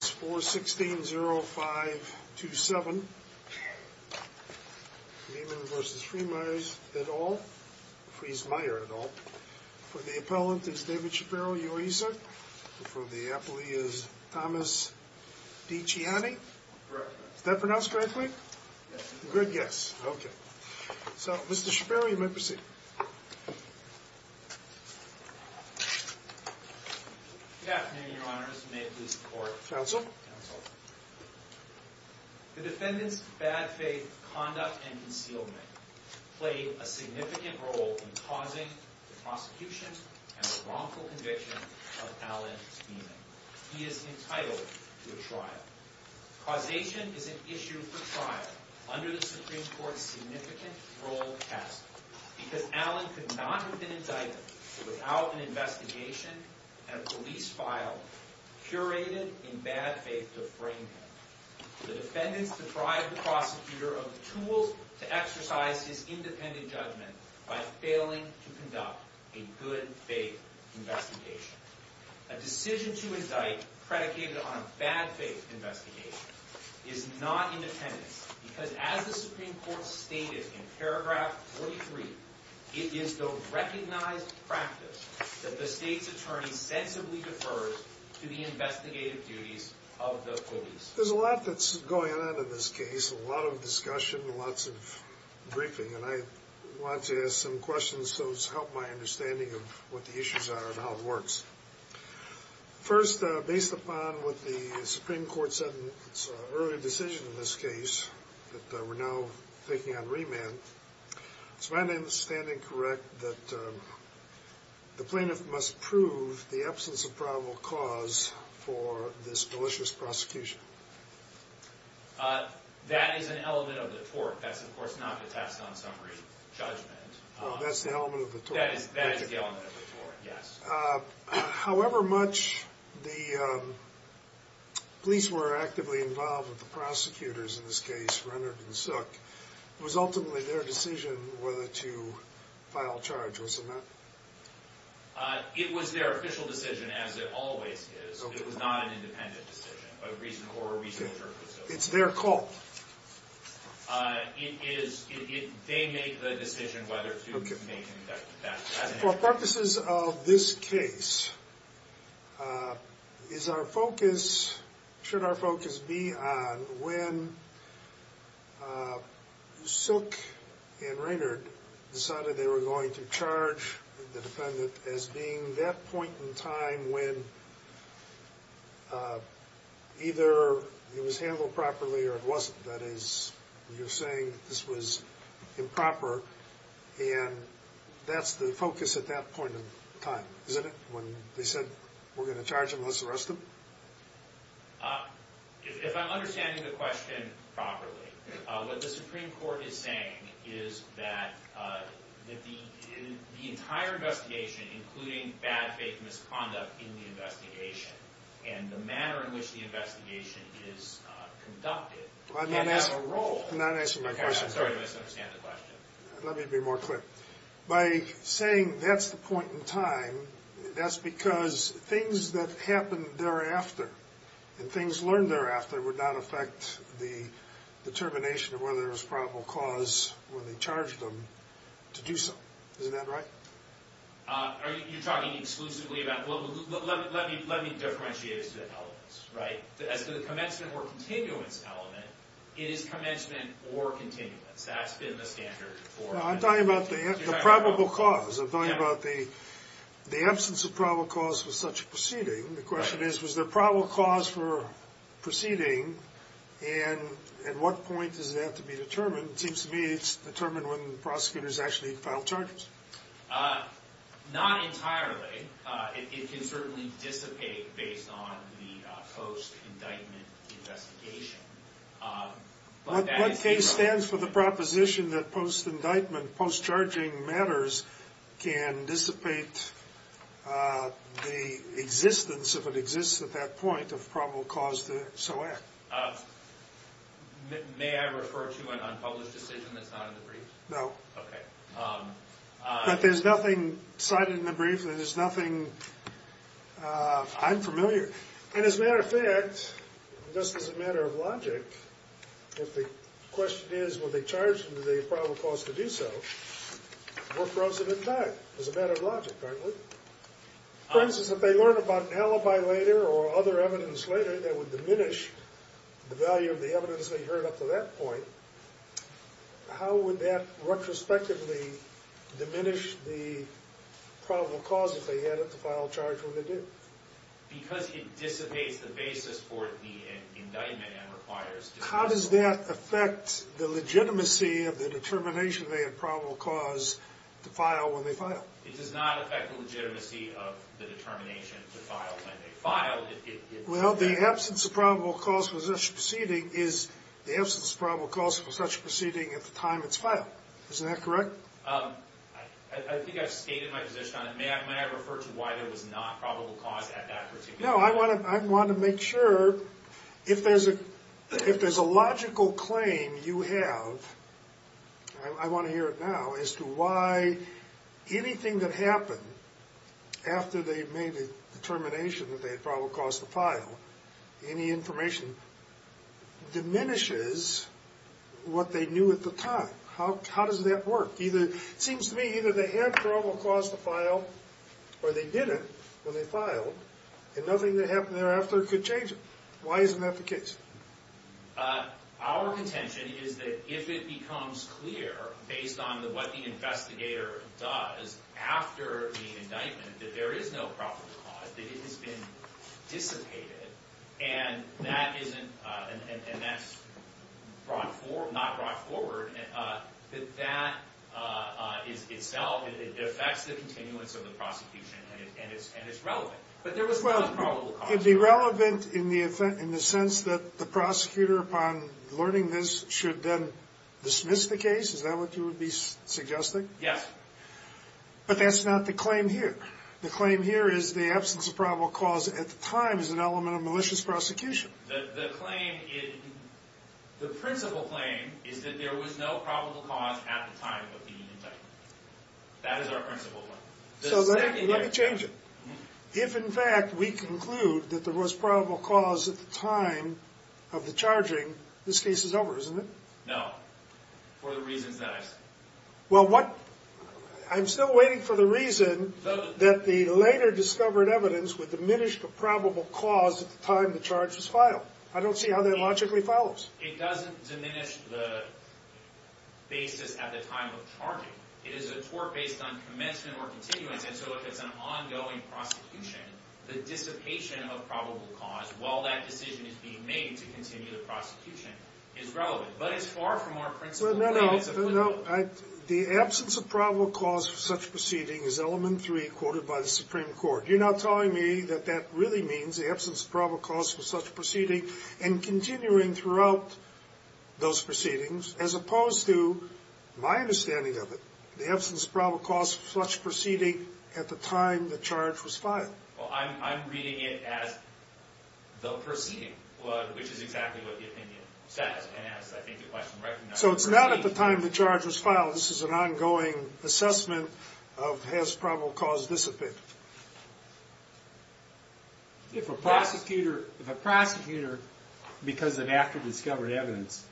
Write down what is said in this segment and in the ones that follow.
For the appellant is David Shapiro, UESA. For the appellee is Thomas Dicciani. Is that pronounced correctly? Good guess. Okay. So, Mr. Shapiro, you may proceed. Good afternoon, Your Honors. May it please the Court. Counsel. Counsel. The defendant's bad faith conduct and concealment played a significant role in causing the prosecution and the wrongful conviction of Alan Beaman. He is entitled to a trial. Causation is an issue for trial under the Supreme Court's significant role test, because Alan could not have been indicted without an investigation and a police file curated in bad faith to frame him. The defendant's deprived the prosecutor of the tools to exercise his independent judgment by failing to conduct a good faith investigation. A decision to indict predicated on a bad faith investigation is not independence, because as the Supreme Court stated in paragraph 43, it is the recognized practice that the state's attorney sensibly defers to the investigative duties of the police. There's a lot that's going on in this case, a lot of discussion, lots of briefing, and I want to ask some questions so as to help my understanding of what the issues are and how it works. First, based upon what the Supreme Court said in its earlier decision in this case, that we're now thinking on remand, is my understanding correct that the plaintiff must prove the absence of probable cause for this malicious prosecution? That is an element of the tort. That's, of course, not the tax non-summary judgment. Oh, that's the element of the tort. That is the element of the tort, yes. However much the police were actively involved with the prosecutors in this case, Renard and Sook, it was ultimately their decision whether to file charge, wasn't it? It was their official decision, as it always is. It was not an independent decision. It's their call. They made the decision whether to make that decision. For purposes of this case, is our focus, should our focus be on when Sook and Renard decided they were going to charge the defendant as being that point in time when either it was handled properly or it wasn't. That is, you're saying this was improper, and that's the focus at that point in time, isn't it? When they said, we're going to charge him, let's arrest him? If I'm understanding the question properly, what the Supreme Court is saying is that the entire investigation, including bad faith misconduct in the investigation, and the manner in which the investigation is conducted— I'm not asking a role. I'm not answering my question. Sorry, I misunderstand the question. Let me be more clear. By saying that's the point in time, that's because things that happened thereafter and things learned thereafter would not affect the determination of whether there was probable cause when they charged him to do so. Isn't that right? You're talking exclusively about—let me differentiate as to the elements. As to the commencement or continuance element, it is commencement or continuance. That's been the standard for— I'm talking about the probable cause. I'm talking about the absence of probable cause for such a proceeding. The question is, was there probable cause for proceeding, and at what point does that have to be determined? It seems to me it's determined when prosecutors actually file charges. Not entirely. It can certainly dissipate based on the post-indictment investigation. What case stands for the proposition that post-indictment, post-charging matters can dissipate the existence, if it exists at that point, of probable cause to so act? May I refer to an unpublished decision that's not in the brief? No. Okay. But there's nothing cited in the brief. There's nothing—I'm familiar. And as a matter of fact, just as a matter of logic, if the question is, were they charged him with a probable cause to do so, we're frozen in time as a matter of logic, aren't we? For instance, if they learn about an alibi later or other evidence later that would diminish the value of the evidence they heard up to that point, how would that retrospectively diminish the probable cause if they had it to file a charge when they did? Because it dissipates the basis for the indictment and requires— How does that affect the legitimacy of the determination they had probable cause to file when they filed? It does not affect the legitimacy of the determination to file when they filed. Well, the absence of probable cause for such a proceeding is the absence of probable cause for such a proceeding at the time it's filed. Isn't that correct? I think I've stated my position on it. May I refer to why there was not probable cause at that particular time? No. I want to make sure if there's a logical claim you have—I want to hear it now—as to why anything that happened after they made the determination that they had probable cause to file, any information, diminishes what they knew at the time. How does that work? It seems to me either they had probable cause to file or they didn't when they filed and nothing that happened thereafter could change it. Why isn't that the case? Our contention is that if it becomes clear, based on what the investigator does after the indictment, that there is no probable cause, that it has been dissipated and that's not brought forward, that that is itself—it affects the continuance of the prosecution and it's relevant. It would be relevant in the sense that the prosecutor, upon learning this, should then dismiss the case? Is that what you would be suggesting? Yes. But that's not the claim here. The claim here is the absence of probable cause at the time is an element of malicious prosecution. The claim—the principal claim—is that there was no probable cause at the time of the indictment. That is our principal one. So let me change it. If, in fact, we conclude that there was probable cause at the time of the charging, this case is over, isn't it? No. For the reasons that I've said. Well, what—I'm still waiting for the reason that the later discovered evidence would diminish the probable cause at the time the charge was filed. I don't see how that logically follows. It doesn't diminish the basis at the time of charging. It is a tort based on commencement or continuance, and so if it's an ongoing prosecution, the dissipation of probable cause, while that decision is being made to continue the prosecution, is relevant. But it's far from our principal evidence of— No, no, no. The absence of probable cause for such proceedings is element three quoted by the Supreme Court. You're not telling me that that really means the absence of probable cause for such proceedings and continuing throughout those proceedings, as opposed to my understanding of it, the absence of probable cause for such proceedings at the time the charge was filed. Well, I'm reading it as the proceeding, which is exactly what the opinion says, and as I think the question recognizes. So it's not at the time the charge was filed. This is an ongoing assessment of has probable cause dissipated. If a prosecutor, because of after-discovered evidence,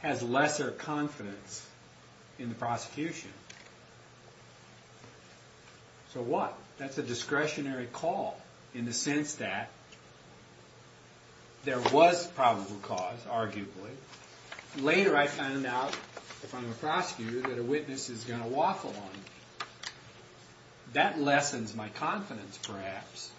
has lesser confidence in the prosecution, so what? That's a discretionary call in the sense that there was probable cause, arguably. Later I find out, if I'm a prosecutor, that a witness is going to waffle on me. That lessens my confidence, perhaps,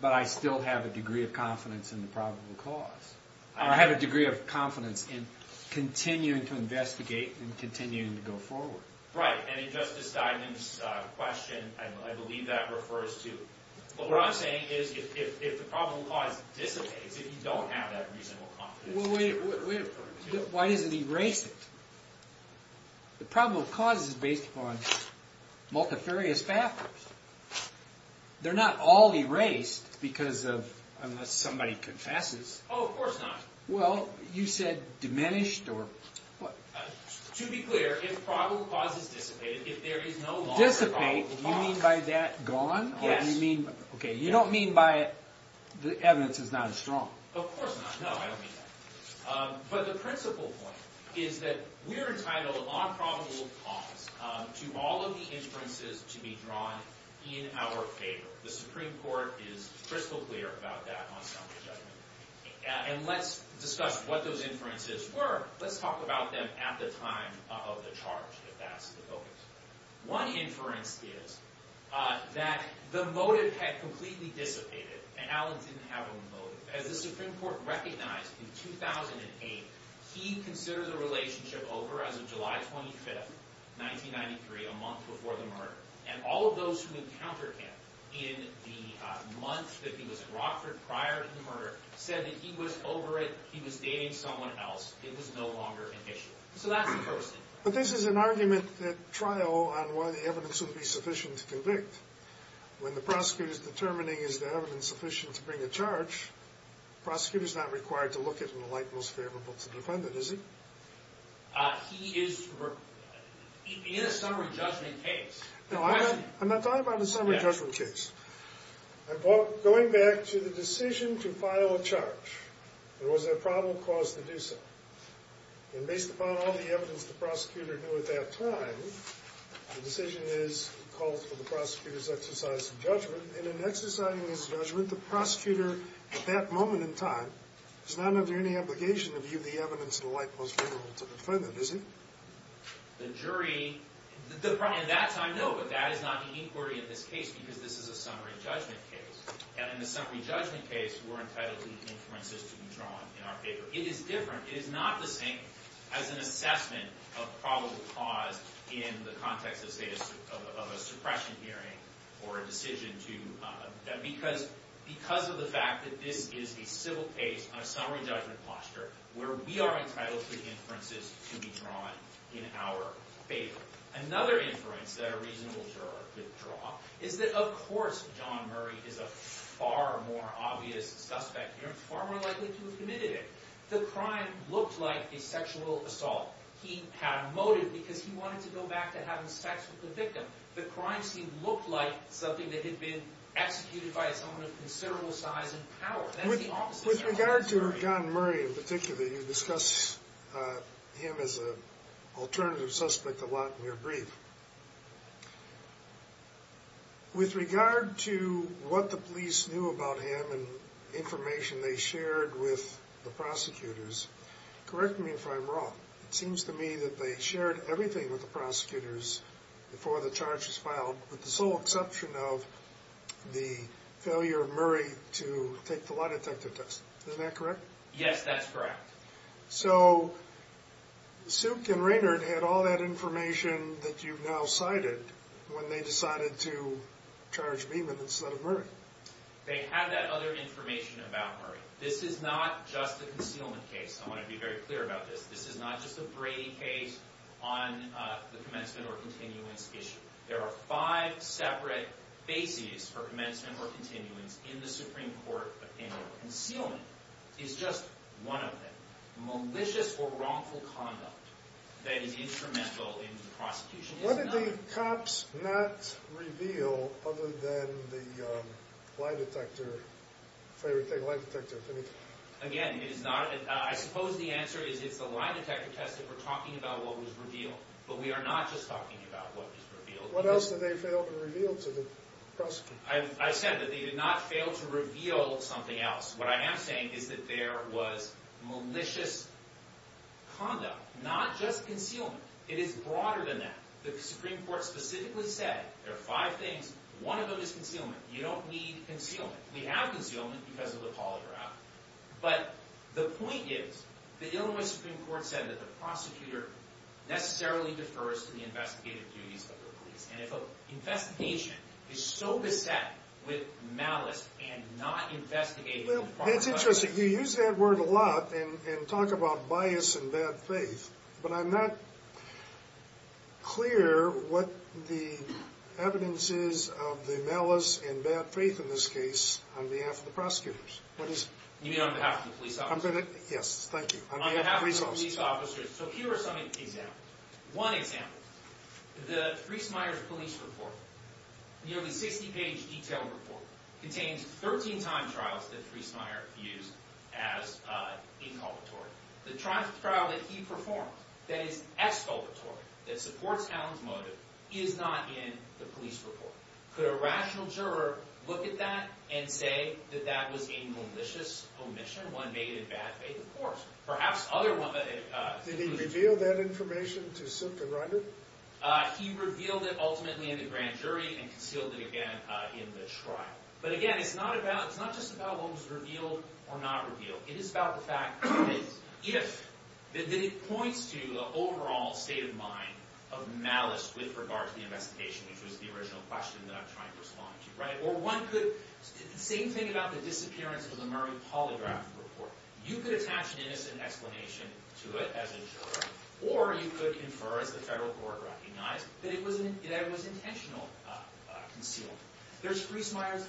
but I still have a degree of confidence in the probable cause. I have a degree of confidence in continuing to investigate and continuing to go forward. Right, and in Justice Steinman's question, I believe that refers to—what I'm saying is if the probable cause dissipates, if you don't have that reasonable confidence. Why does it erase it? The probable cause is based upon multifarious factors. They're not all erased because of—unless somebody confesses. Oh, of course not. Well, you said diminished or what? To be clear, if probable cause is dissipated, if there is no longer probable cause— Dissipate, you mean by that gone? Yes. Okay, you don't mean by the evidence is not as strong? Of course not. No, I don't mean that. But the principal point is that we're entitled on probable cause to all of the inferences to be drawn in our favor. The Supreme Court is crystal clear about that on summary judgment. And let's discuss what those inferences were. Let's talk about them at the time of the charge, if that's the focus. One inference is that the motive had completely dissipated, and Allen didn't have a motive. As the Supreme Court recognized in 2008, he considered the relationship over as of July 25, 1993, a month before the murder. And all of those who encountered him in the month that he was at Rockford prior to the murder said that he was over it, he was dating someone else, it was no longer an issue. So that's the first thing. But this is an argument at trial on whether the evidence would be sufficient to convict. When the prosecutor is determining is the evidence sufficient to bring a charge, the prosecutor is not required to look at it in the light most favorable to the defendant, is he? He is—in a summary judgment case— No, I'm not talking about a summary judgment case. I'm going back to the decision to file a charge. There was a probable cause to do so. And based upon all the evidence the prosecutor knew at that time, the decision is—he calls for the prosecutor's exercise of judgment. And in exercising his judgment, the prosecutor at that moment in time is not under any obligation to view the evidence in the light most favorable to the defendant, is he? The jury—at that time, no, but that is not the inquiry in this case because this is a summary judgment case. And in a summary judgment case, we're entitled to the inferences to be drawn in our favor. It is different. It is not the same as an assessment of probable cause in the context of, say, a suppression hearing or a decision to— because of the fact that this is a civil case on a summary judgment posture where we are entitled to the inferences to be drawn in our favor. Another inference that a reasonable juror could draw is that, of course, John Murray is a far more obvious suspect here and far more likely to have committed it. The crime looked like a sexual assault. He had a motive because he wanted to go back to having sex with the victim. The crime seemed—looked like something that had been executed by someone of considerable size and power. With regard to John Murray in particular, you discuss him as an alternative suspect a lot in your brief. With regard to what the police knew about him and information they shared with the prosecutors, correct me if I'm wrong, it seems to me that they shared everything with the prosecutors before the charge was filed with the sole exception of the failure of Murray to take the lie detector test. Is that correct? Yes, that's correct. So Suk and Raynard had all that information that you've now cited when they decided to charge Beeman instead of Murray. They had that other information about Murray. This is not just a concealment case. I want to be very clear about this. This is not just a Brady case on the commencement or continuance issue. There are five separate bases for commencement or continuance in the Supreme Court opinion. Concealment is just one of them. Malicious or wrongful conduct that is instrumental in the prosecution is not— What did the cops not reveal other than the lie detector—favorite thing, lie detector? Again, it is not—I suppose the answer is it's the lie detector test that we're talking about what was revealed. But we are not just talking about what was revealed. What else did they fail to reveal to the prosecutor? I said that they did not fail to reveal something else. What I am saying is that there was malicious conduct, not just concealment. It is broader than that. The Supreme Court specifically said there are five things. One of them is concealment. You don't need concealment. We have concealment because of the polygraph. But the point is the Illinois Supreme Court said that the prosecutor necessarily defers to the investigative duties of the police. And if an investigation is so beset with malice and not investigating— Well, it's interesting. You use that word a lot and talk about bias and bad faith. But I'm not clear what the evidence is of the malice and bad faith in this case on behalf of the prosecutors. What is it? You mean on behalf of the police officers? Yes, thank you. On behalf of the police officers. On behalf of the police officers. So here are some examples. One example, the Friesmeier's police report, nearly 60-page detailed report, contains 13 time trials that Friesmeier used as inculpatory. The trial that he performed that is exculpatory, that supports Allen's motive, is not in the police report. Could a rational juror look at that and say that that was a malicious omission, one made in bad faith? Of course. Perhaps other— Did he reveal that information to Simpton Reiner? He revealed it ultimately in the grand jury and concealed it again in the trial. But again, it's not just about what was revealed or not revealed. It is about the fact that if—that it points to the overall state of mind of malice with regard to the investigation, which was the original question that I'm trying to respond to, right? Or one could—same thing about the disappearance of the Murray Polygraph report. You could attach an innocent explanation to it as a juror, or you could infer as the federal court recognized that it was intentional concealment. There's Friesmeier's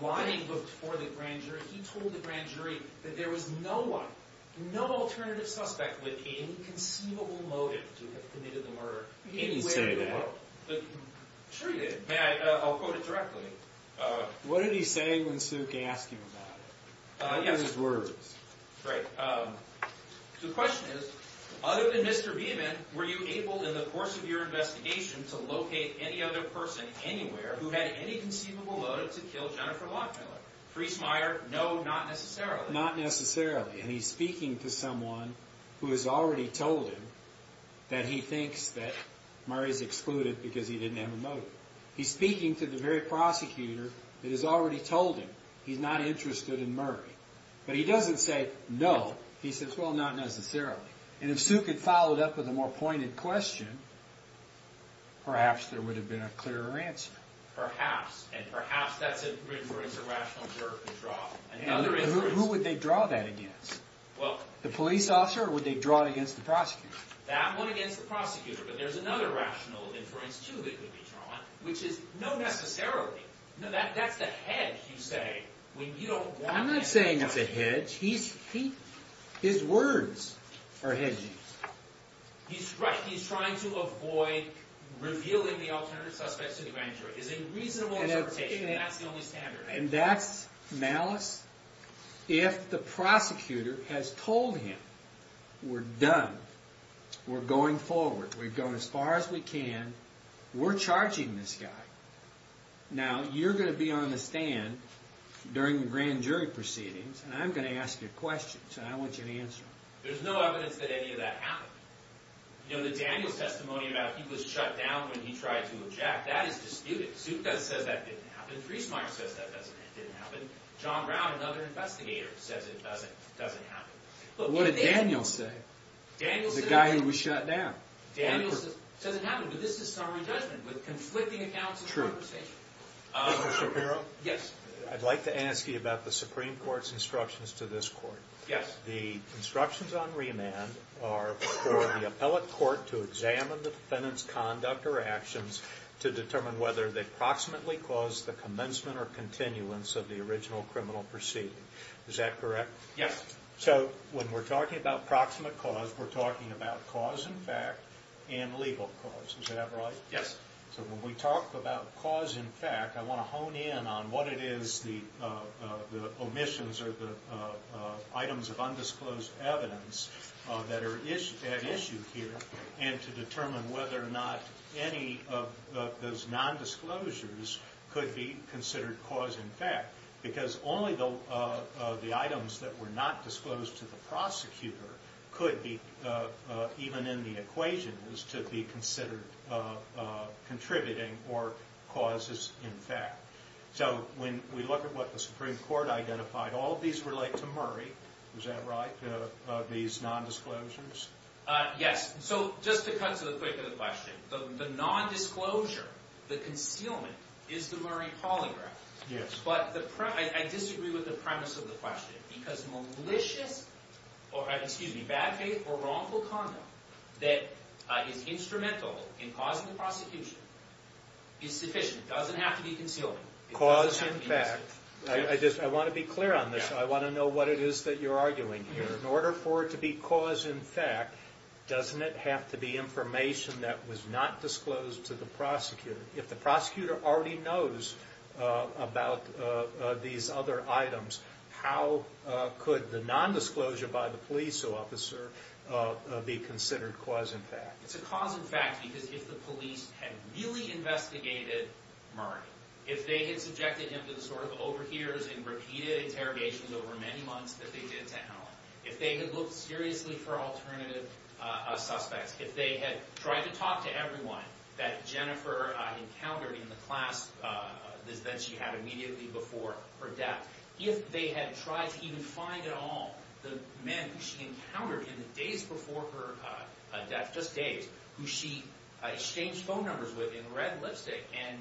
blinding look for the grand jury. He told the grand jury that there was no one, no alternative suspect with any conceivable motive to have committed the murder anywhere in the world. He didn't say that. Sure he did. May I—I'll quote it directly. What did he say when Suk asked him about it? Yes. In his words. Right. The question is, other than Mr. Beeman, were you able in the course of your investigation to locate any other person anywhere who had any conceivable motive to kill Jennifer Lockmiller? Friesmeier, no, not necessarily. Not necessarily. And he's speaking to someone who has already told him that he thinks that Murray's excluded because he didn't have a motive. He's speaking to the very prosecutor that has already told him he's not interested in Murray. But he doesn't say, no. He says, well, not necessarily. And if Suk had followed up with a more pointed question, perhaps there would have been a clearer answer. Perhaps. And perhaps that's an inference, a rational word to draw. Who would they draw that against? Well— The police officer or would they draw it against the prosecutor? That one against the prosecutor. But there's another rational inference, too, that could be drawn, which is, no, necessarily. No, that's the hedge you say when you don't want— I'm not saying it's a hedge. His words are hedging. He's right. He's trying to avoid revealing the alternate suspects to the grand jury. It's a reasonable interpretation. That's the only standard. And that's malice? If the prosecutor has told him, we're done. We're going forward. We've gone as far as we can. We're charging this guy. Now, you're going to be on the stand during the grand jury proceedings, and I'm going to ask you questions, and I want you to answer them. There's no evidence that any of that happened. You know, the Daniels testimony about he was shut down when he tried to eject, that is disputed. Zucker says that didn't happen. Friesmeier says that didn't happen. John Brown, another investigator, says it doesn't happen. But what did Daniels say? Daniels— The guy who was shut down. Daniels says it didn't happen, but this is summary judgment with conflicting accounts of conversation. True. Mr. Shapiro? Yes. I'd like to ask you about the Supreme Court's instructions to this Court. Yes. The instructions on remand are for the appellate court to examine the defendant's conduct or actions to determine whether they proximately cause the commencement or continuance of the original criminal proceeding. Is that correct? Yes. So, when we're talking about proximate cause, we're talking about cause in fact and legal cause. Is that right? Yes. So, when we talk about cause in fact, I want to hone in on what it is the omissions or the items of undisclosed evidence that are at issue here and to determine whether or not any of those nondisclosures could be considered cause in fact. Because only the items that were not disclosed to the prosecutor could be, even in the equation, is to be considered contributing or causes in fact. So, when we look at what the Supreme Court identified, all of these relate to Murray. Is that right? These nondisclosures? Yes. So, just to cut to the quick of the question, the nondisclosure, the concealment, is the Murray polygraph. Yes. But I disagree with the premise of the question because malicious, excuse me, bad faith or wrongful conduct that is instrumental in causing the prosecution is sufficient. It doesn't have to be concealment. Cause in fact. I want to be clear on this. I want to know what it is that you're arguing here. In order for it to be cause in fact, doesn't it have to be information that was not disclosed to the prosecutor? If the prosecutor already knows about these other items, how could the nondisclosure by the police officer be considered cause in fact? It's a cause in fact because if the police had really investigated Murray, if they had subjected him to the sort of overhears and repeated interrogations over many months that they did to Allen, if they had looked seriously for alternative suspects, if they had tried to talk to everyone that Jennifer encountered in the class that she had immediately before her death, if they had tried to even find at all the men who she encountered in the days before her death, just days, who she exchanged phone numbers with in red lipstick and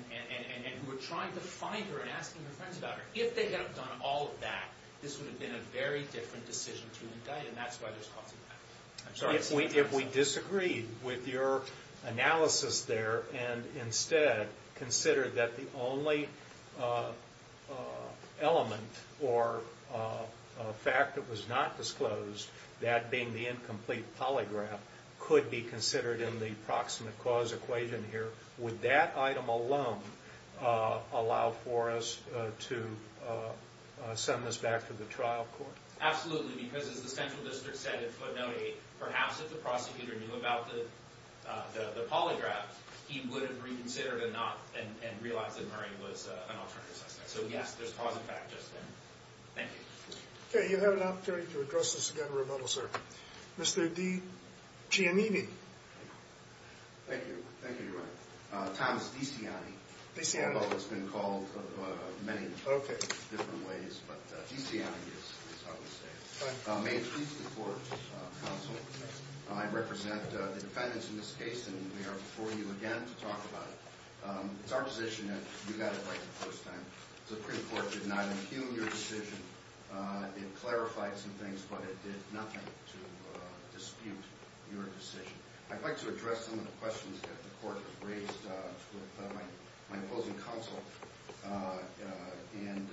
who were trying to find her and asking her friends about her, if they had done all of that, this would have been a very different decision to indict. And that's why there's cause in fact. If we disagreed with your analysis there and instead considered that the only element or fact that was not disclosed, that being the incomplete polygraph, could be considered in the proximate cause equation here, would that item alone allow for us to send this back to the trial court? Absolutely, because as the central district said in footnote 8, perhaps if the prosecutor knew about the polygraph, he would have reconsidered and realized that Murray was an alternative suspect. So yes, there's cause in fact just then. Thank you. Okay, you have an opportunity to address this again in rebuttal, sir. Mr. D. Giannini. Thank you. Thank you, Your Honor. Thomas DeCiano. DeCiano has been called many different ways, but DeCiano is how I'm going to say it. May I introduce the court counsel? I represent the defendants in this case, and we are before you again to talk about it. It's our position that you got it right the first time. The Supreme Court did not impugn your decision. It clarified some things, but it did nothing to dispute your decision. I'd like to address some of the questions that the court has raised with my opposing counsel. And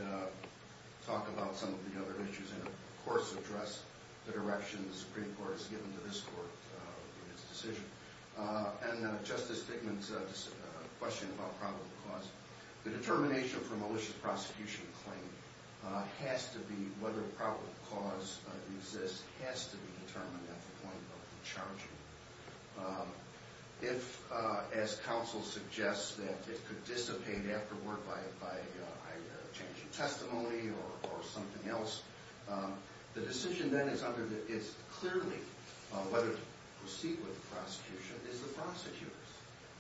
talk about some of the other issues, and of course address the direction the Supreme Court has given to this court in its decision. And Justice Figman's question about probable cause. The determination for a malicious prosecution claim has to be whether probable cause exists, has to be determined at the point of the charge. If, as counsel suggests, that it could dissipate afterward by changing testimony or something else, the decision then is clearly whether to proceed with the prosecution is the prosecutor's.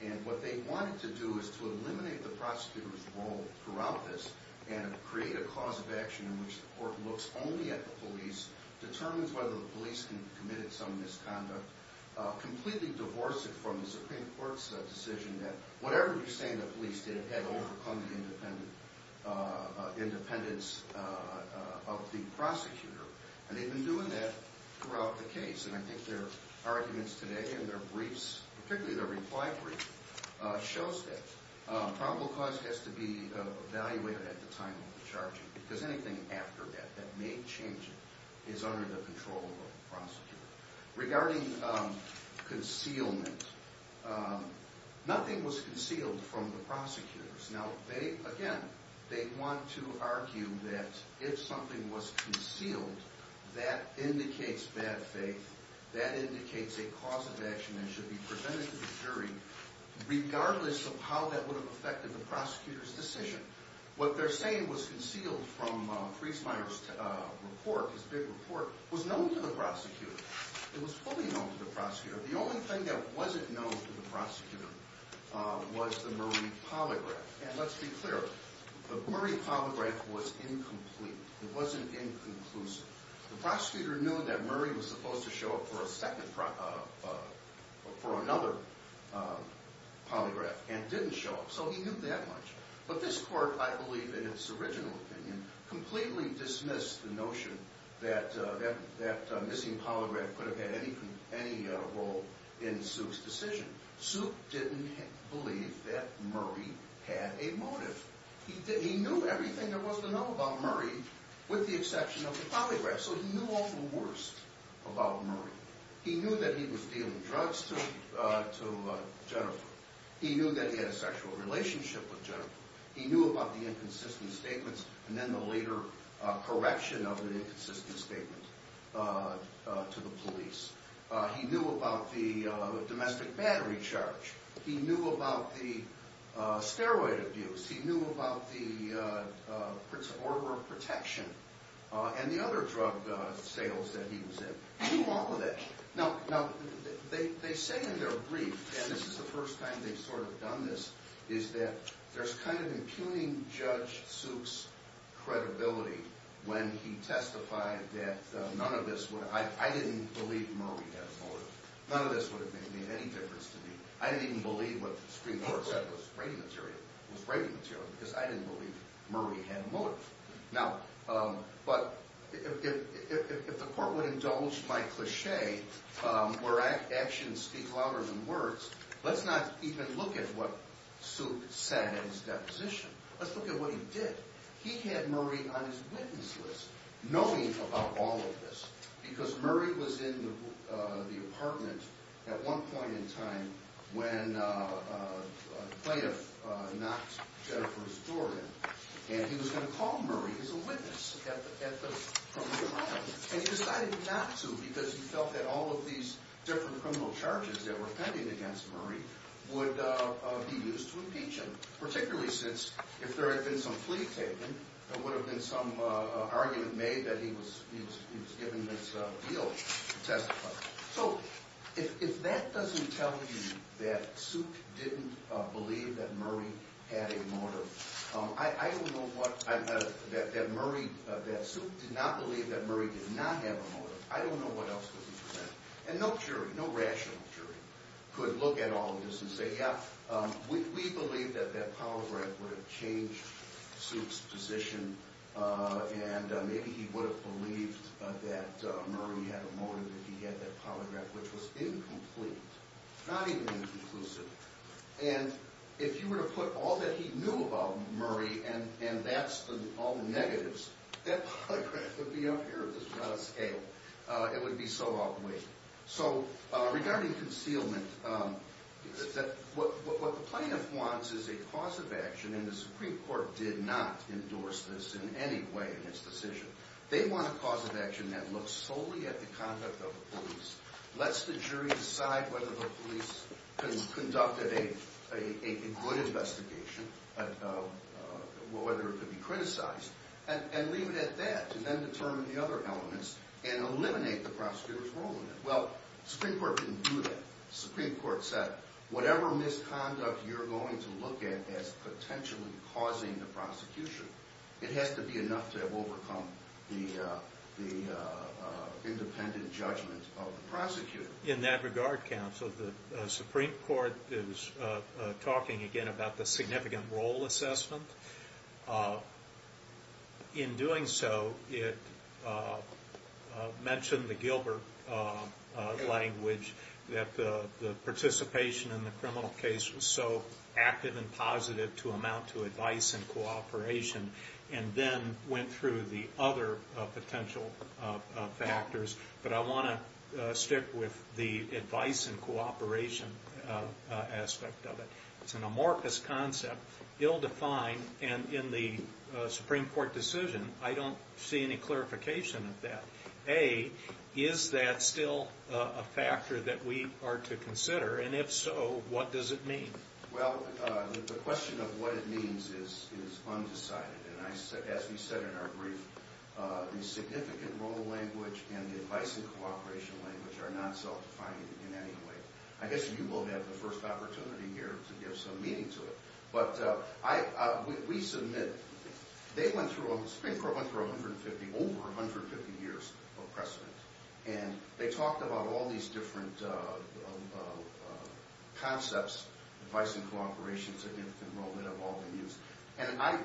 And what they wanted to do is to eliminate the prosecutor's role throughout this and create a cause of action in which the court looks only at the police, determines whether the police committed some misconduct, completely divorce it from the Supreme Court's decision that whatever you say to the police, they have had to overcome the independence of the prosecutor. And they've been doing that throughout the case. And I think their arguments today in their briefs, particularly their reply brief, shows that probable cause has to be evaluated at the time of the charging because anything after that that may change it is under the control of the prosecutor. Regarding concealment, nothing was concealed from the prosecutors. Now, again, they want to argue that if something was concealed, that indicates bad faith, that indicates a cause of action that should be presented to the jury, regardless of how that would have affected the prosecutor's decision. What they're saying was concealed from Friesmeier's report, his big report, was known to the prosecutor. It was fully known to the prosecutor. The only thing that wasn't known to the prosecutor was the Murray polygraph. And let's be clear, the Murray polygraph was incomplete. It wasn't inconclusive. The prosecutor knew that Murray was supposed to show up for another polygraph and didn't show up, so he knew that much. But this court, I believe in its original opinion, completely dismissed the notion that a missing polygraph could have had any role in Suke's decision. Suke didn't believe that Murray had a motive. He knew everything there was to know about Murray, with the exception of the polygraph, so he knew all the worst about Murray. He knew that he was dealing drugs to Jennifer. He knew that he had a sexual relationship with Jennifer. He knew about the inconsistent statements and then the later correction of an inconsistent statement to the police. He knew about the domestic battery charge. He knew about the steroid abuse. He knew about the order of protection and the other drug sales that he was in. He knew all of that. Now, they say in their brief, and this is the first time they've sort of done this, is that there's kind of impugning Judge Suke's credibility when he testified that none of this would have— I didn't believe Murray had a motive. None of this would have made any difference to me. I didn't even believe what the Supreme Court said was rating material because I didn't believe Murray had a motive. But if the court would indulge my cliché where actions speak louder than words, let's not even look at what Suke said in his deposition. Let's look at what he did. He had Murray on his witness list, knowing about all of this, because Murray was in the apartment at one point in time when a plaintiff knocked Jennifer's door in, and he was going to call Murray as a witness at the criminal trial, and he decided not to because he felt that all of these different criminal charges that were pending against Murray would be used to impeach him, particularly since if there had been some plea taken, there would have been some argument made that he was given this deal to testify. So if that doesn't tell you that Suke didn't believe that Murray had a motive, I don't know what—that Suke did not believe that Murray did not have a motive, I don't know what else could be presented. And no jury, no rational jury, could look at all of this and say, yeah, we believe that Powell Grant would have changed Suke's position, and maybe he would have believed that Murray had a motive, that he had that polygraph, which was incomplete, not even inconclusive. And if you were to put all that he knew about Murray, and that's all the negatives, that polygraph would be up here. It would be out of scale. It would be so outweighed. So regarding concealment, what the plaintiff wants is a cause of action, and the Supreme Court did not endorse this in any way in its decision. They want a cause of action that looks solely at the conduct of the police, lets the jury decide whether the police conducted a good investigation, whether it could be criticized, and leave it at that to then determine the other elements and eliminate the prosecutor's role in it. Well, the Supreme Court didn't do that. The Supreme Court said, whatever misconduct you're going to look at as potentially causing the prosecution, it has to be enough to have overcome the independent judgment of the prosecutor. In that regard, counsel, the Supreme Court is talking again about the significant role assessment. In doing so, it mentioned the Gilbert language, that the participation in the criminal case was so active and positive to amount to advice and cooperation, and then went through the other potential factors. But I want to stick with the advice and cooperation aspect of it. It's an amorphous concept, ill-defined, and in the Supreme Court decision, I don't see any clarification of that. A, is that still a factor that we are to consider, and if so, what does it mean? Well, the question of what it means is undecided, and as we said in our brief, the significant role language and the advice and cooperation language are not self-defined in any way. I guess you will have the first opportunity here to give some meaning to it. But we submit, the Supreme Court went through over 150 years of precedent, and they talked about all these different concepts, advice and cooperation, significant role, that have all been used. And I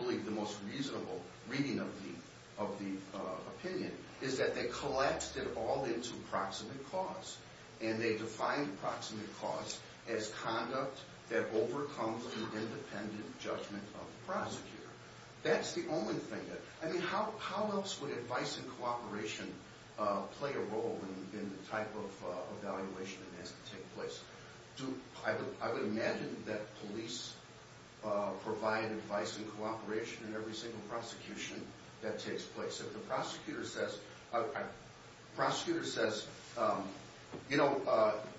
believe the most reasonable reading of the opinion is that they collapsed it all into proximate cause, and they defined proximate cause as conduct that overcomes an independent judgment of the prosecutor. That's the only thing that... I mean, how else would advice and cooperation play a role in the type of evaluation that has to take place? I would imagine that police provide advice and cooperation in every single prosecution that takes place. If the prosecutor says, you know,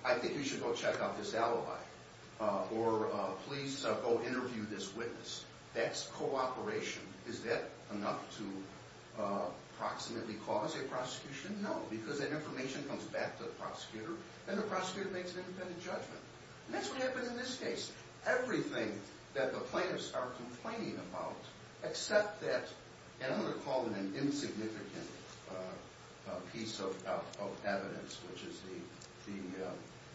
I think you should go check out this alibi, or please go interview this witness, that's cooperation. Is that enough to proximately cause a prosecution? No, because that information comes back to the prosecutor, and the prosecutor makes an independent judgment. And that's what happened in this case. Everything that the plaintiffs are complaining about, except that... And I'm going to call it an insignificant piece of evidence, which is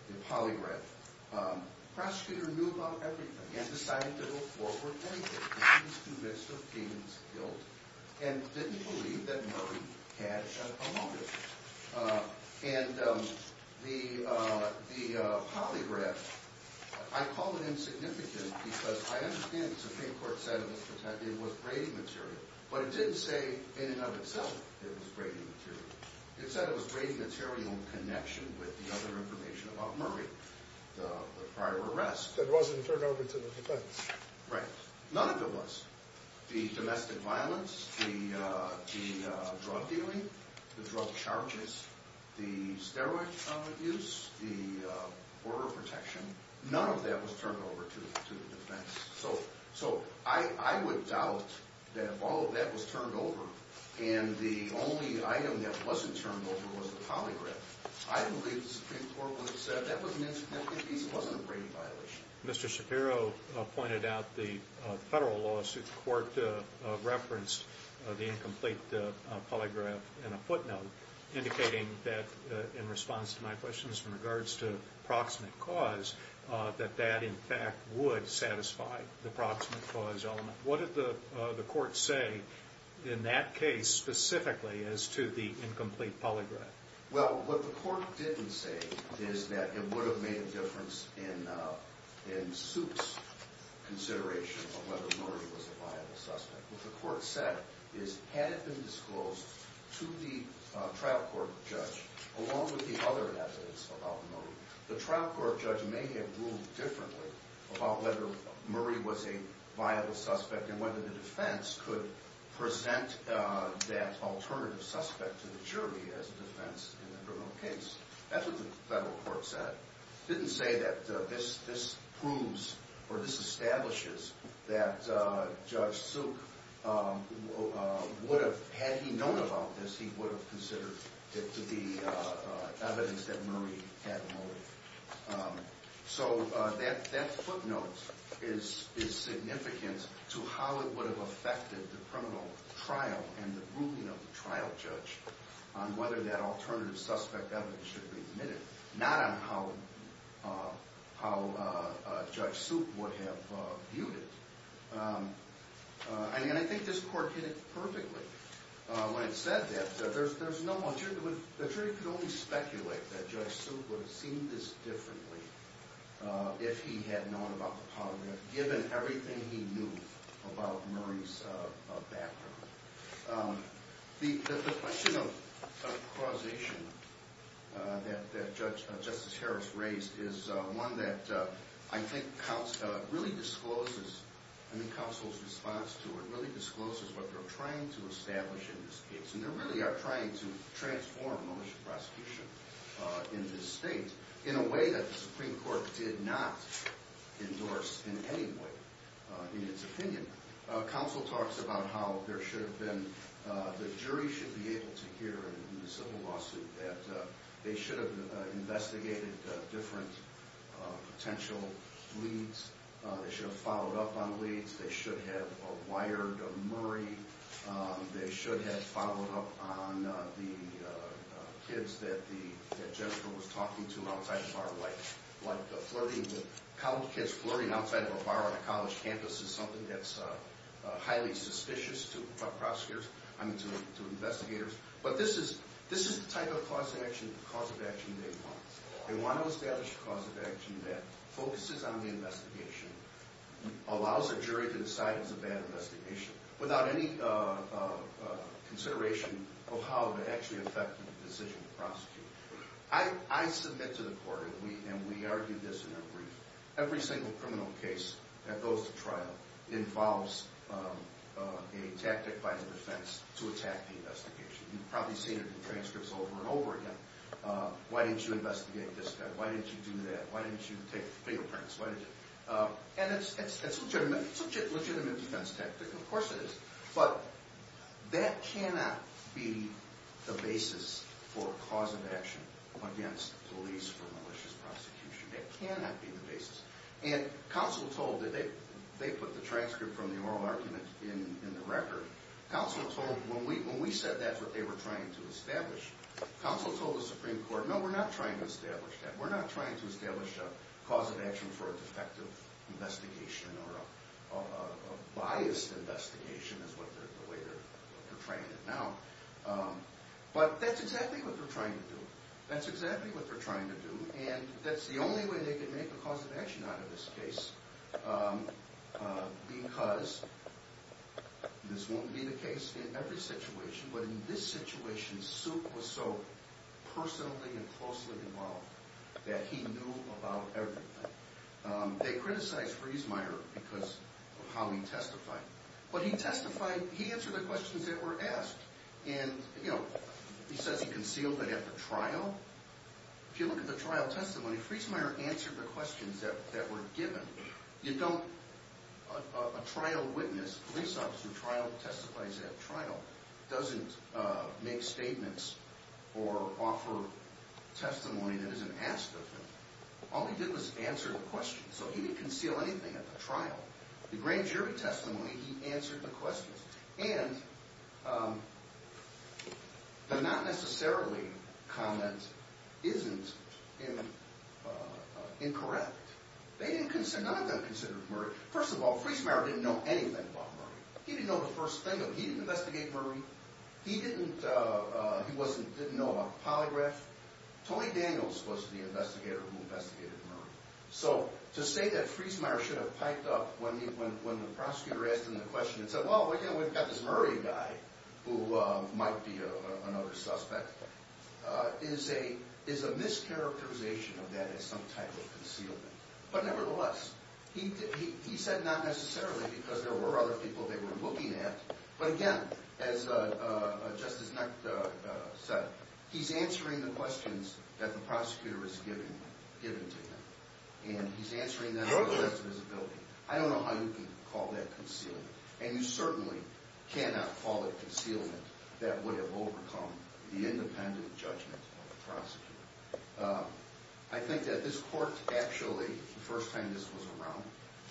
the polygraph. The prosecutor knew about everything and decided to go forward with anything. He was convinced of Payne's guilt and didn't believe that Murray had a motive. And the polygraph... I call it insignificant because I understand that the Supreme Court said it was brave material, but it didn't say in and of itself it was brave material. It said it was brave material in connection with the other information about Murray, the prior arrest. That wasn't turned over to the defense. Right. None of it was. The domestic violence, the drug dealing, the drug charges, the steroid use, the border protection, none of that was turned over to the defense. So I would doubt that all of that was turned over and the only item that wasn't turned over was the polygraph. I believe the Supreme Court would have said that piece wasn't a brave violation. Mr. Shapiro pointed out the federal lawsuit. The court referenced the incomplete polygraph in a footnote, indicating that, in response to my questions in regards to proximate cause, that that, in fact, would satisfy the proximate cause element. What did the court say in that case specifically as to the incomplete polygraph? Well, what the court didn't say is that it would have made a difference in Suit's consideration of whether Murray was a viable suspect. What the court said is, had it been disclosed to the trial court judge, along with the other evidence about Murray, the trial court judge may have ruled differently about whether Murray was a viable suspect and whether the defense could present that alternative suspect to the jury as a defense in the criminal case. That's what the federal court said. It didn't say that this proves or this establishes that Judge Silk would have... Had he known about this, he would have considered it to be evidence that Murray had motive. So that footnote is significant to how it would have affected the criminal trial and the ruling of the trial judge on whether that alternative suspect evidence should be admitted, not on how Judge Silk would have viewed it. And I think this court hit it perfectly when it said that. The jury could only speculate that Judge Silk would have seen this differently if he had known about the polygraph, given everything he knew about Murray's background. The question of causation that Justice Harris raised is one that I think really discloses, I think counsel's response to it really discloses what they're trying to establish in this case, and they really are trying to transform the militia prosecution in this state in a way that the Supreme Court did not endorse in any way in its opinion. Counsel talks about how there should have been... The jury should be able to hear in the civil lawsuit that they should have investigated different potential leads. They should have followed up on leads. They should have wired Murray. They should have followed up on the kids that Jennifer was talking to outside the bar. Like flirting with college kids outside of a bar on a college campus is something that's highly suspicious to investigators. But this is the type of cause of action they want. They want to establish a cause of action that focuses on the investigation, allows a jury to decide it's a bad investigation, without any consideration of how it would actually affect the decision of the prosecutor. I submit to the court, and we argue this in our brief, every single criminal case that goes to trial involves a tactic by the defense to attack the investigation. You've probably seen it in transcripts over and over again. Why didn't you investigate this guy? Why didn't you do that? Why didn't you take fingerprints? And it's a legitimate defense tactic. Of course it is. But that cannot be the basis for a cause of action against police for malicious prosecution. That cannot be the basis. And counsel told... They put the transcript from the oral argument in the record. Counsel told... When we said that's what they were trying to establish, counsel told the Supreme Court, no, we're not trying to establish that. We're not trying to establish a cause of action for a defective investigation or a biased investigation is the way they're trying it now. But that's exactly what they're trying to do. That's exactly what they're trying to do. And that's the only way they can make a cause of action out of this case because this won't be the case in every situation, but in this situation, Suke was so personally and closely involved that he knew about everything. They criticized Friesmeier because of how he testified. But he testified... He answered the questions that were asked. And, you know, he says he concealed that at the trial. If you look at the trial testimony, Friesmeier answered the questions that were given. You don't... A trial witness, a police officer who testifies at a trial, doesn't make statements or offer testimony that isn't asked of him. All he did was answer the questions. So he didn't conceal anything at the trial. The grand jury testimony, he answered the questions. And the not necessarily comment isn't incorrect. None of them considered Murray... First of all, Friesmeier didn't know anything about Murray. He didn't know the first thing of him. He didn't investigate Murray. He didn't know about the polygraph. Tony Daniels was the investigator who investigated Murray. So to say that Friesmeier should have piped up when the prosecutor asked him the question and said, well, we've got this Murray guy who might be another suspect, is a mischaracterization of that as some type of concealment. But nevertheless, he said not necessarily because there were other people they were looking at. But again, as Justice Necht said, he's answering the questions that the prosecutor is giving to him. And he's answering them regardless of his ability. I don't know how you can call that concealment. And you certainly cannot call it concealment that would have overcome the independent judgment of the prosecutor. I think that this court actually, the first time this was around,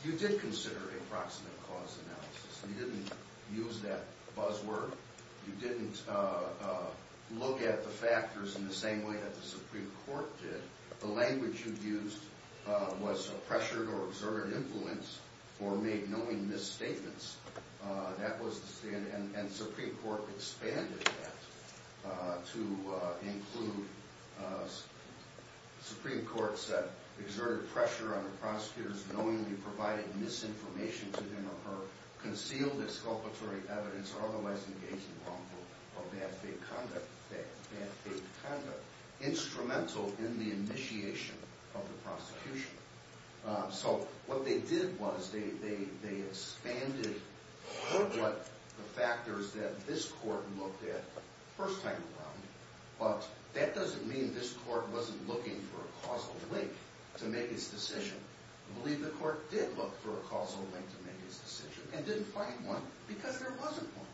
you did consider a proximate cause analysis. You didn't use that buzzword. You didn't look at the factors in the same way that the Supreme Court did. The language you used was a pressured or exerted influence or made knowing misstatements. And the Supreme Court expanded that to include Supreme Courts that exerted pressure on the prosecutors knowingly provided misinformation to him or her, or bad faith conduct, bad faith conduct, instrumental in the initiation of the prosecution. So what they did was they expanded what the factors that this court looked at the first time around. But that doesn't mean this court wasn't looking for a causal link to make its decision. I believe the court did look for a causal link to make its decision and didn't find one because there wasn't one.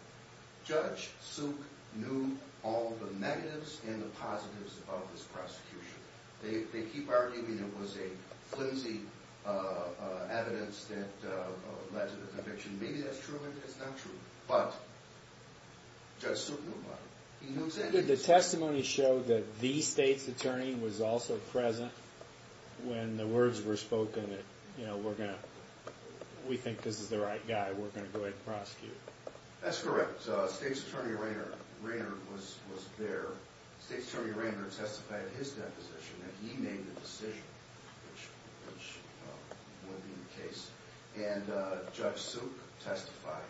Judge Suk knew all the negatives and the positives of this prosecution. They keep arguing it was a flimsy evidence that led to the conviction. Maybe that's true and maybe that's not true. But Judge Suk knew about it. He knew exactly what he was doing. Did the testimony show that the state's attorney was also present when the words were spoken that, you know, we think this is the right guy, we're going to go ahead and prosecute? That's correct. State's attorney Rayner was there. State's attorney Rayner testified in his deposition that he made the decision which would be the case. And Judge Suk testified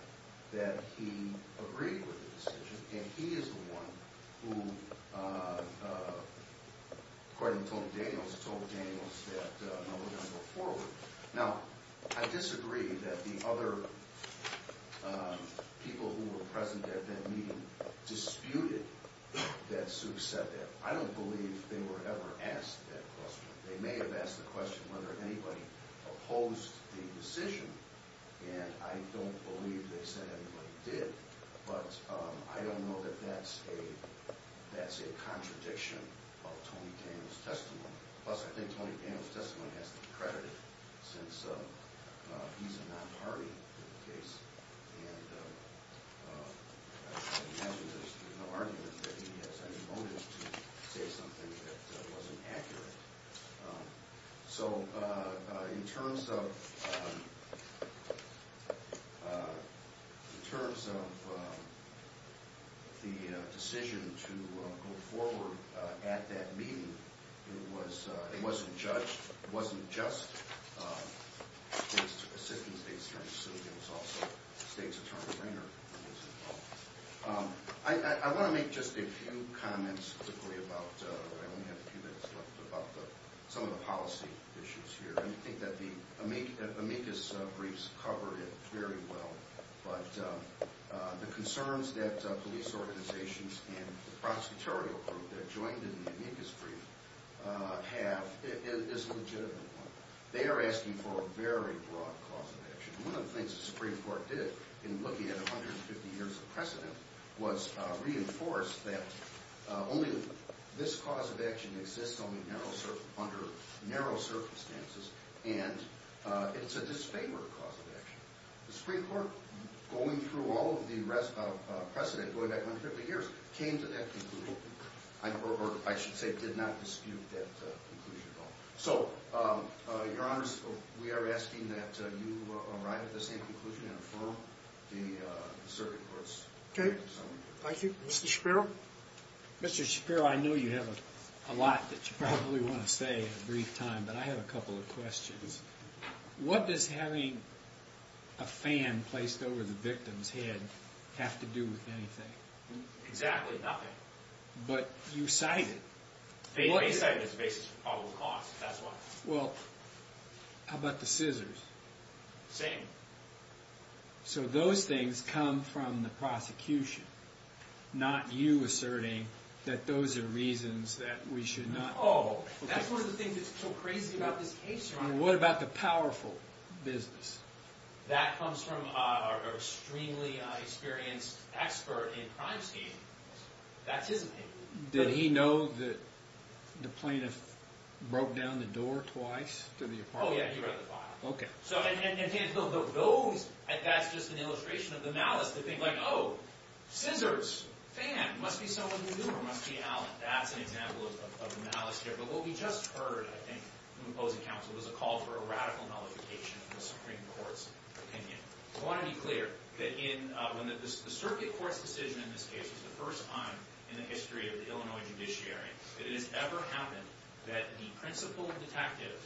that he agreed with the decision and he is the one who, according to Daniels, told Daniels that, you know, we're going to go forward. Now, I disagree that the other people who were present at that meeting disputed that Suk said that. I don't believe they were ever asked that question. They may have asked the question whether anybody opposed the decision, and I don't believe they said anybody did. But I don't know that that's a contradiction of Tony Daniels' testimony. Plus, I think Tony Daniels' testimony has to be credited since he's a non-party in the case. And I imagine there's no argument that he has any motives to say something that wasn't accurate. So, in terms of the decision to go forward at that meeting, it wasn't judged. It wasn't just the Assistant State's Attorney Suk. It was also State's attorney Rayner who was involved. I want to make just a few comments quickly about I only have a few minutes left about some of the policy issues here. I think that the amicus briefs cover it very well. But the concerns that police organizations and the prosecutorial group that joined in the amicus brief have is a legitimate one. They are asking for a very broad cause of action. One of the things the Supreme Court did in looking at 150 years of precedent was reinforce that only this cause of action exists under narrow circumstances. And it's a disfavored cause of action. The Supreme Court, going through all of the precedent going back 150 years, came to that conclusion. Or, I should say, did not dispute that conclusion at all. So, Your Honors, we are asking that you arrive at the same conclusion and affirm the Circuit Court's decision. Okay. Thank you. Mr. Shapiro? Mr. Shapiro, I know you have a lot that you probably want to say in a brief time, but I have a couple of questions. What does having a fan placed over the victim's head have to do with anything? Exactly nothing. But you cited it. Well, I cited it as the basis for probable cause. That's why. Well, how about the scissors? Same. So those things come from the prosecution, not you asserting that those are reasons that we should not hold. Oh, that's one of the things that's so crazy about this case, Your Honor. What about the powerful business? That comes from our extremely experienced expert in crime scheme. That's his opinion. Did he know that the plaintiff broke down the door twice to the apartment? Oh, yeah, he read the file. Okay. So those, that's just an illustration of the malice, the thing like, oh, scissors, fan, must be someone new or must be out. That's an example of the malice here. But what we just heard, I think, from opposing counsel, was a call for a radical nullification of the Supreme Court's opinion. I want to be clear that when the Circuit Court's decision in this case was the first time in the history of the Illinois judiciary that it has ever happened that the principal detectives,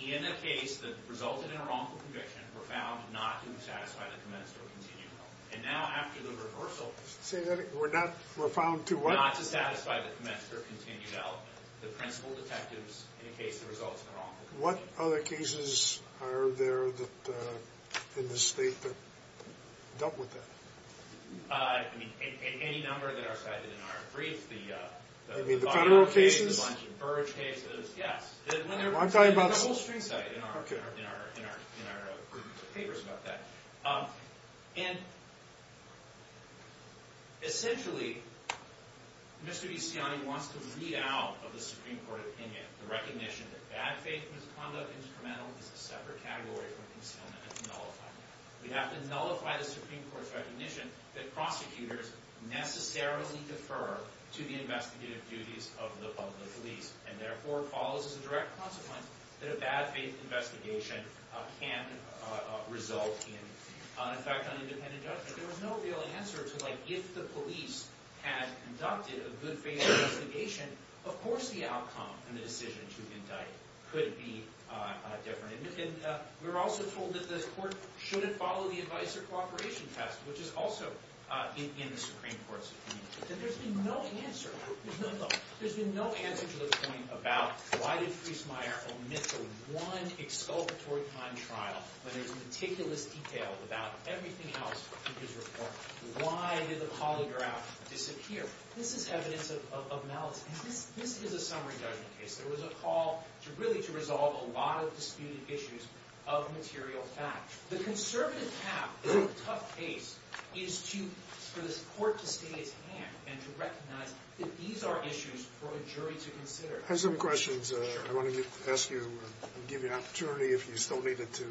in a case that resulted in a wrongful conviction, were found not to satisfy the commensurate continued element. And now after the reversal, Say that again. We're not, we're found to what? Not to satisfy the commensurate continued element. The principal detectives in a case that results in a wrongful conviction. What other cases are there in the state that dealt with that? I mean, any number that are cited in our brief. You mean the federal cases? The Bunch and Burge cases, yes. Well, I'm talking about. There's a whole string set in our papers about that. And essentially, Mr. Bisciotti wants to vee out of the Supreme Court opinion the recognition that bad faith misconduct instrumental is a separate category from concealment and nullify. We have to nullify the Supreme Court's recognition that prosecutors necessarily defer to the investigative duties of the public police. And therefore, it follows as a direct consequence that a bad faith investigation can result in an effect on independent judgment. There was no real answer to like, if the police had conducted a good faith investigation, of course the outcome and the decision to indict could be different. And we were also told that the court shouldn't follow the advice or cooperation test, which is also in the Supreme Court's opinion. And there's been no answer. There's been no answer to the point about why did Friesmeier omit the one exculpatory time trial when there's meticulous detail about everything else in his report. Why did the polygraph disappear? This is evidence of malice. And this is a summary judgment case. There was a call really to resolve a lot of disputed issues of material fact. The conservative path in a tough case is for the court to stay its hand and to recognize that these are issues for a jury to consider. I have some questions. I want to ask you and give you an opportunity, if you still need it, to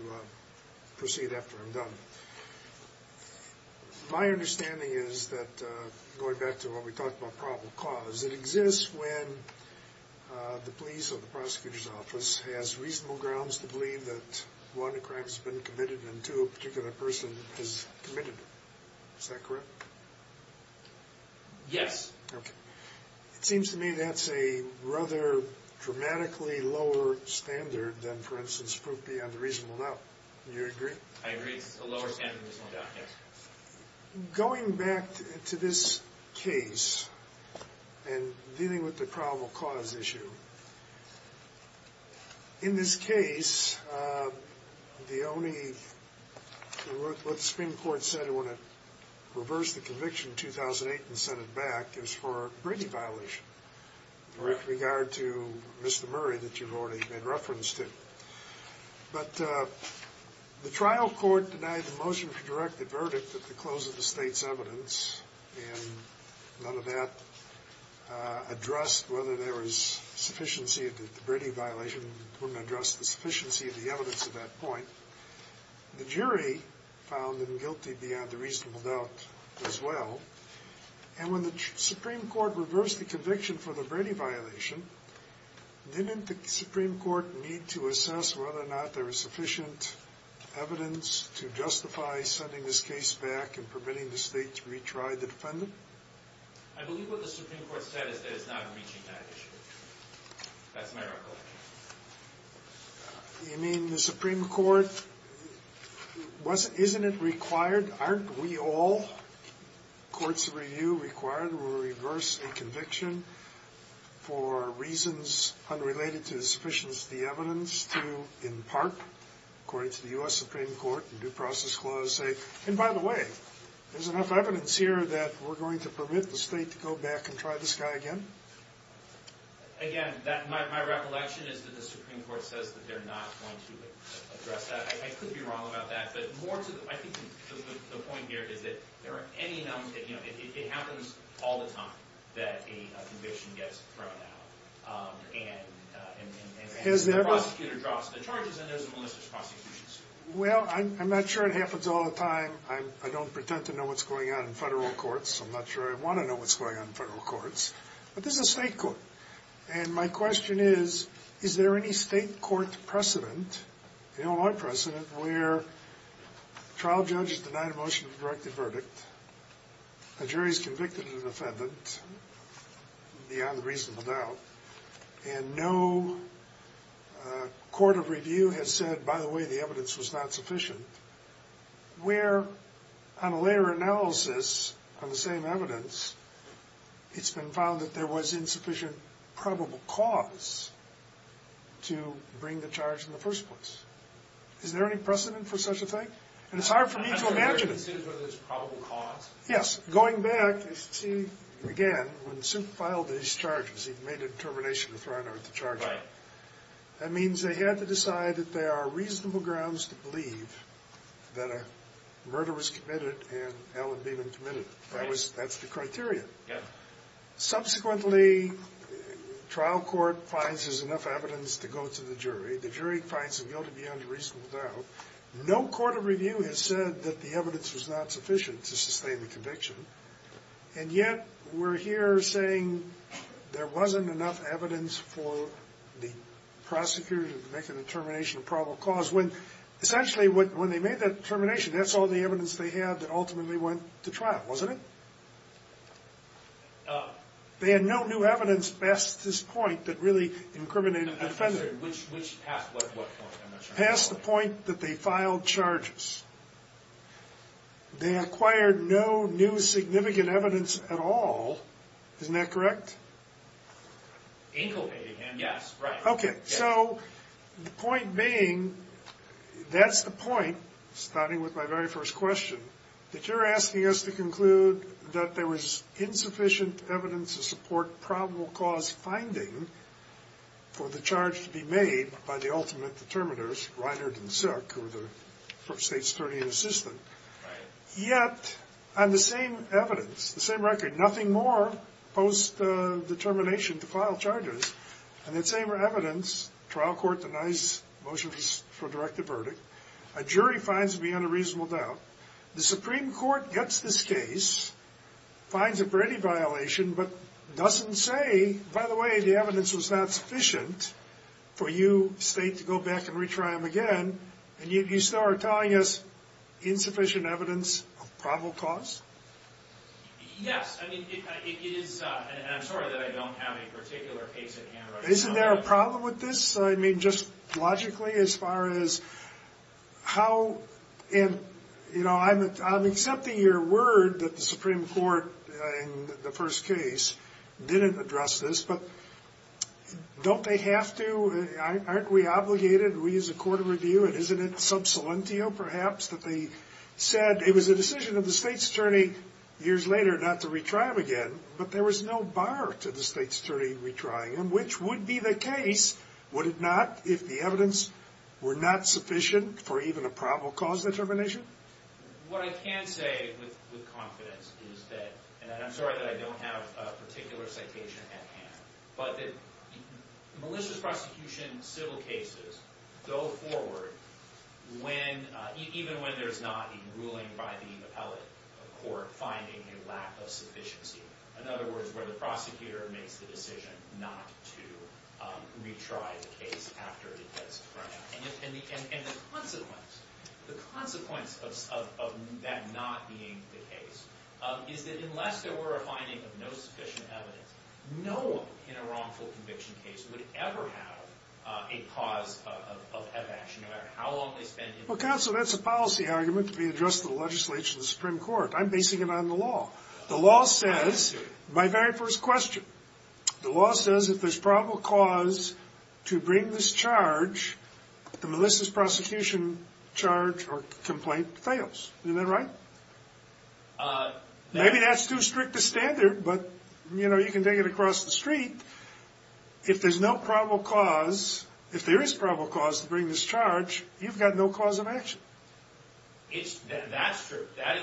proceed after I'm done. My understanding is that, going back to what we talked about probable cause, it exists when the police or the prosecutor's office has reasonable grounds to believe that, one, a crime has been committed and, two, a particular person has committed it. Is that correct? Yes. Okay. It seems to me that's a rather dramatically lower standard than, for instance, proof beyond a reasonable doubt. Do you agree? I agree. It's a lower standard than a reasonable doubt, yes. Going back to this case and dealing with the probable cause issue, in this case, the only— what the Supreme Court said when it reversed the conviction in 2008 and sent it back is for a Brady violation with regard to Mr. Murray that you've already made reference to. But the trial court denied the motion to direct the verdict at the close of the state's evidence, and none of that addressed whether there was sufficiency of the Brady violation and wouldn't address the sufficiency of the evidence at that point. The jury found him guilty beyond a reasonable doubt as well. And when the Supreme Court reversed the conviction for the Brady violation, didn't the Supreme Court need to assess whether or not there was sufficient evidence to justify sending this case back and permitting the state to retry the defendant? I believe what the Supreme Court said is that it's not reaching that issue. That's my recollection. You mean the Supreme Court— isn't it required? Aren't we all, courts of review, required to reverse a conviction for reasons unrelated to the sufficiency of the evidence to, in part, according to the U.S. Supreme Court, in due process clause, say, and by the way, there's enough evidence here that we're going to permit the state to go back and try this guy again? Again, my recollection is that the Supreme Court says that they're not going to address that. I could be wrong about that, but more to the— I think the point here is that there are any— it happens all the time that a conviction gets thrown out, and the prosecutor drops the charges, and there's a malicious prosecution suit. Well, I'm not sure it happens all the time. I don't pretend to know what's going on in federal courts, so I'm not sure I want to know what's going on in federal courts. But this is a state court, and my question is, is there any state court precedent, Illinois precedent, where trial judges deny the motion to direct the verdict, a jury's convicted an offendant, beyond reasonable doubt, and no court of review has said, by the way, the evidence was not sufficient, where, on a later analysis on the same evidence, it's been found that there was insufficient probable cause to bring the charge in the first place? Is there any precedent for such a thing? And it's hard for me to imagine it. I'm not sure there's precedent for this probable cause. Yes. Going back, you see, again, when Sup filed these charges, he made a determination to throw out the charges. Right. That means they had to decide that there are reasonable grounds to believe that a murder was committed and Allen Beeman committed it. Right. That's the criteria. Yeah. Subsequently, trial court finds there's enough evidence to go to the jury. The jury finds him guilty beyond reasonable doubt. No court of review has said that the evidence was not sufficient to sustain the conviction, and yet we're here saying there wasn't enough evidence for the prosecutor to make a determination of probable cause, when essentially when they made that determination, that's all the evidence they had that ultimately went to trial, wasn't it? They had no new evidence past this point that really incriminated the defendant. Which past what point? Past the point that they filed charges. They acquired no new significant evidence at all. Isn't that correct? Inculpating him, yes. Right. Okay. So the point being, that's the point, starting with my very first question, that you're asking us to conclude that there was insufficient evidence to support probable cause finding for the charge to be made by the ultimate determiners, Reinhard and Sick, who were the state's attorney and assistant. Right. Yet, on the same evidence, the same record, nothing more post-determination to file charges, and that same evidence, trial court denies motions for a directed verdict, a jury finds beyond a reasonable doubt, the Supreme Court gets this case, finds it for any violation, but doesn't say, by the way, the evidence was not sufficient for you, state, to go back and retry them again, and you still are telling us insufficient evidence of probable cause? Yes. I mean, it is, and I'm sorry that I don't have a particular case at hand right now. Isn't there a problem with this? I mean, just logically, as far as how, and, you know, I'm accepting your word that the Supreme Court, in the first case, didn't address this, but don't they have to, aren't we obligated, we as a court of review, and isn't it sub salientio, perhaps, that they said it was a decision of the state's attorney years later not to retry them again, but there was no bar to the state's attorney retrying them, which would be the case, would it not, if the evidence were not sufficient for even a probable cause determination? What I can say with confidence is that, and I'm sorry that I don't have a particular citation at hand, but that malicious prosecution civil cases go forward when, even when there's not a ruling by the appellate court finding a lack of sufficiency, in other words, where the prosecutor makes the decision not to retry the case after it gets thrown out, and the consequence, the consequence of that not being the case, is that unless there were a finding of no sufficient evidence, no one in a wrongful conviction case would ever have a cause of action, no matter how long they spent in the court. Well, counsel, that's a policy argument to be addressed in the legislature and the Supreme Court. I'm basing it on the law. The law says, my very first question, the law says if there's probable cause to bring this charge, the malicious prosecution charge or complaint fails. Isn't that right? Maybe that's too strict a standard, but, you know, you can take it across the street. If there's no probable cause, if there is probable cause to bring this charge, you've got no cause of action. That is true, that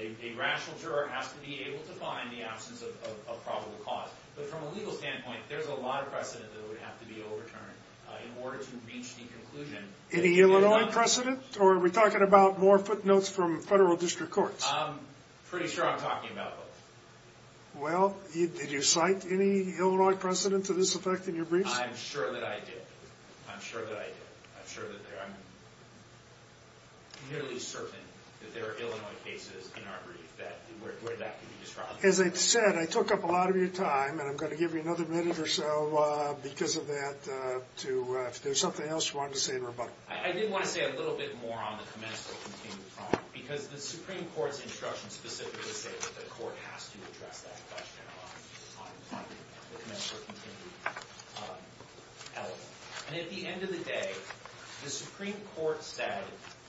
a rational juror has to be able to find the absence of probable cause, but from a legal standpoint, there's a lot of precedent that would have to be overturned in order to reach the conclusion. Any Illinois precedent, or are we talking about more footnotes from federal district courts? I'm pretty sure I'm talking about both. Well, did you cite any Illinois precedent to this effect in your briefs? I'm sure that I did. I'm sure that I did. I'm sure that there are, I'm nearly certain that there are Illinois cases in our brief where that could be used for other purposes. As I've said, I took up a lot of your time, and I'm going to give you another minute or so because of that to, if there's something else you wanted to say in rebuttal. I did want to say a little bit more on the commensal continued prompt, because the Supreme Court's instructions specifically say that the court has to address that question on the commensal continued element. And at the end of the day, the Supreme Court said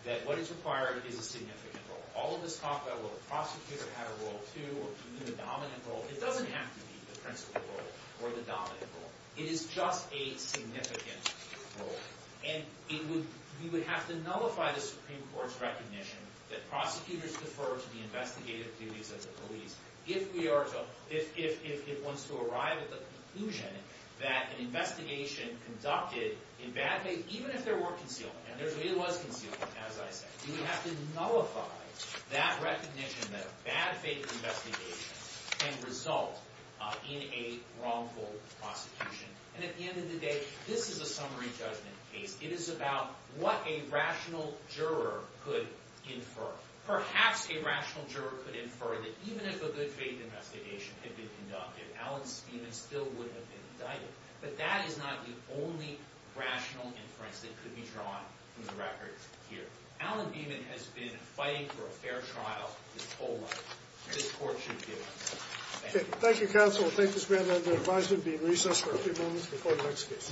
that what is required is a significant role. All of this talk about will the prosecutor have a role, too, or even the dominant role, it doesn't have to be the principal role or the dominant role. It is just a significant role. And you would have to nullify the Supreme Court's recognition that prosecutors defer to the investigative duties of the police if it wants to arrive at the conclusion that an investigation conducted in bad faith, even if there were concealment, and there really was concealment, as I said, you would have to nullify that recognition that a bad faith investigation can result in a wrongful prosecution. And at the end of the day, this is a summary judgment case. It is about what a rational juror could infer. Perhaps a rational juror could infer that even if a good faith investigation had been conducted, Alan Beaman still would have been indicted. But that is not the only rational inference that could be drawn from the record here. Alan Beaman has been fighting for a fair trial his whole life. This court should give him that. Thank you. Thank you, counsel. Thank you, Mr. Van Lander. The advisement will be in recess for a few moments before the next case.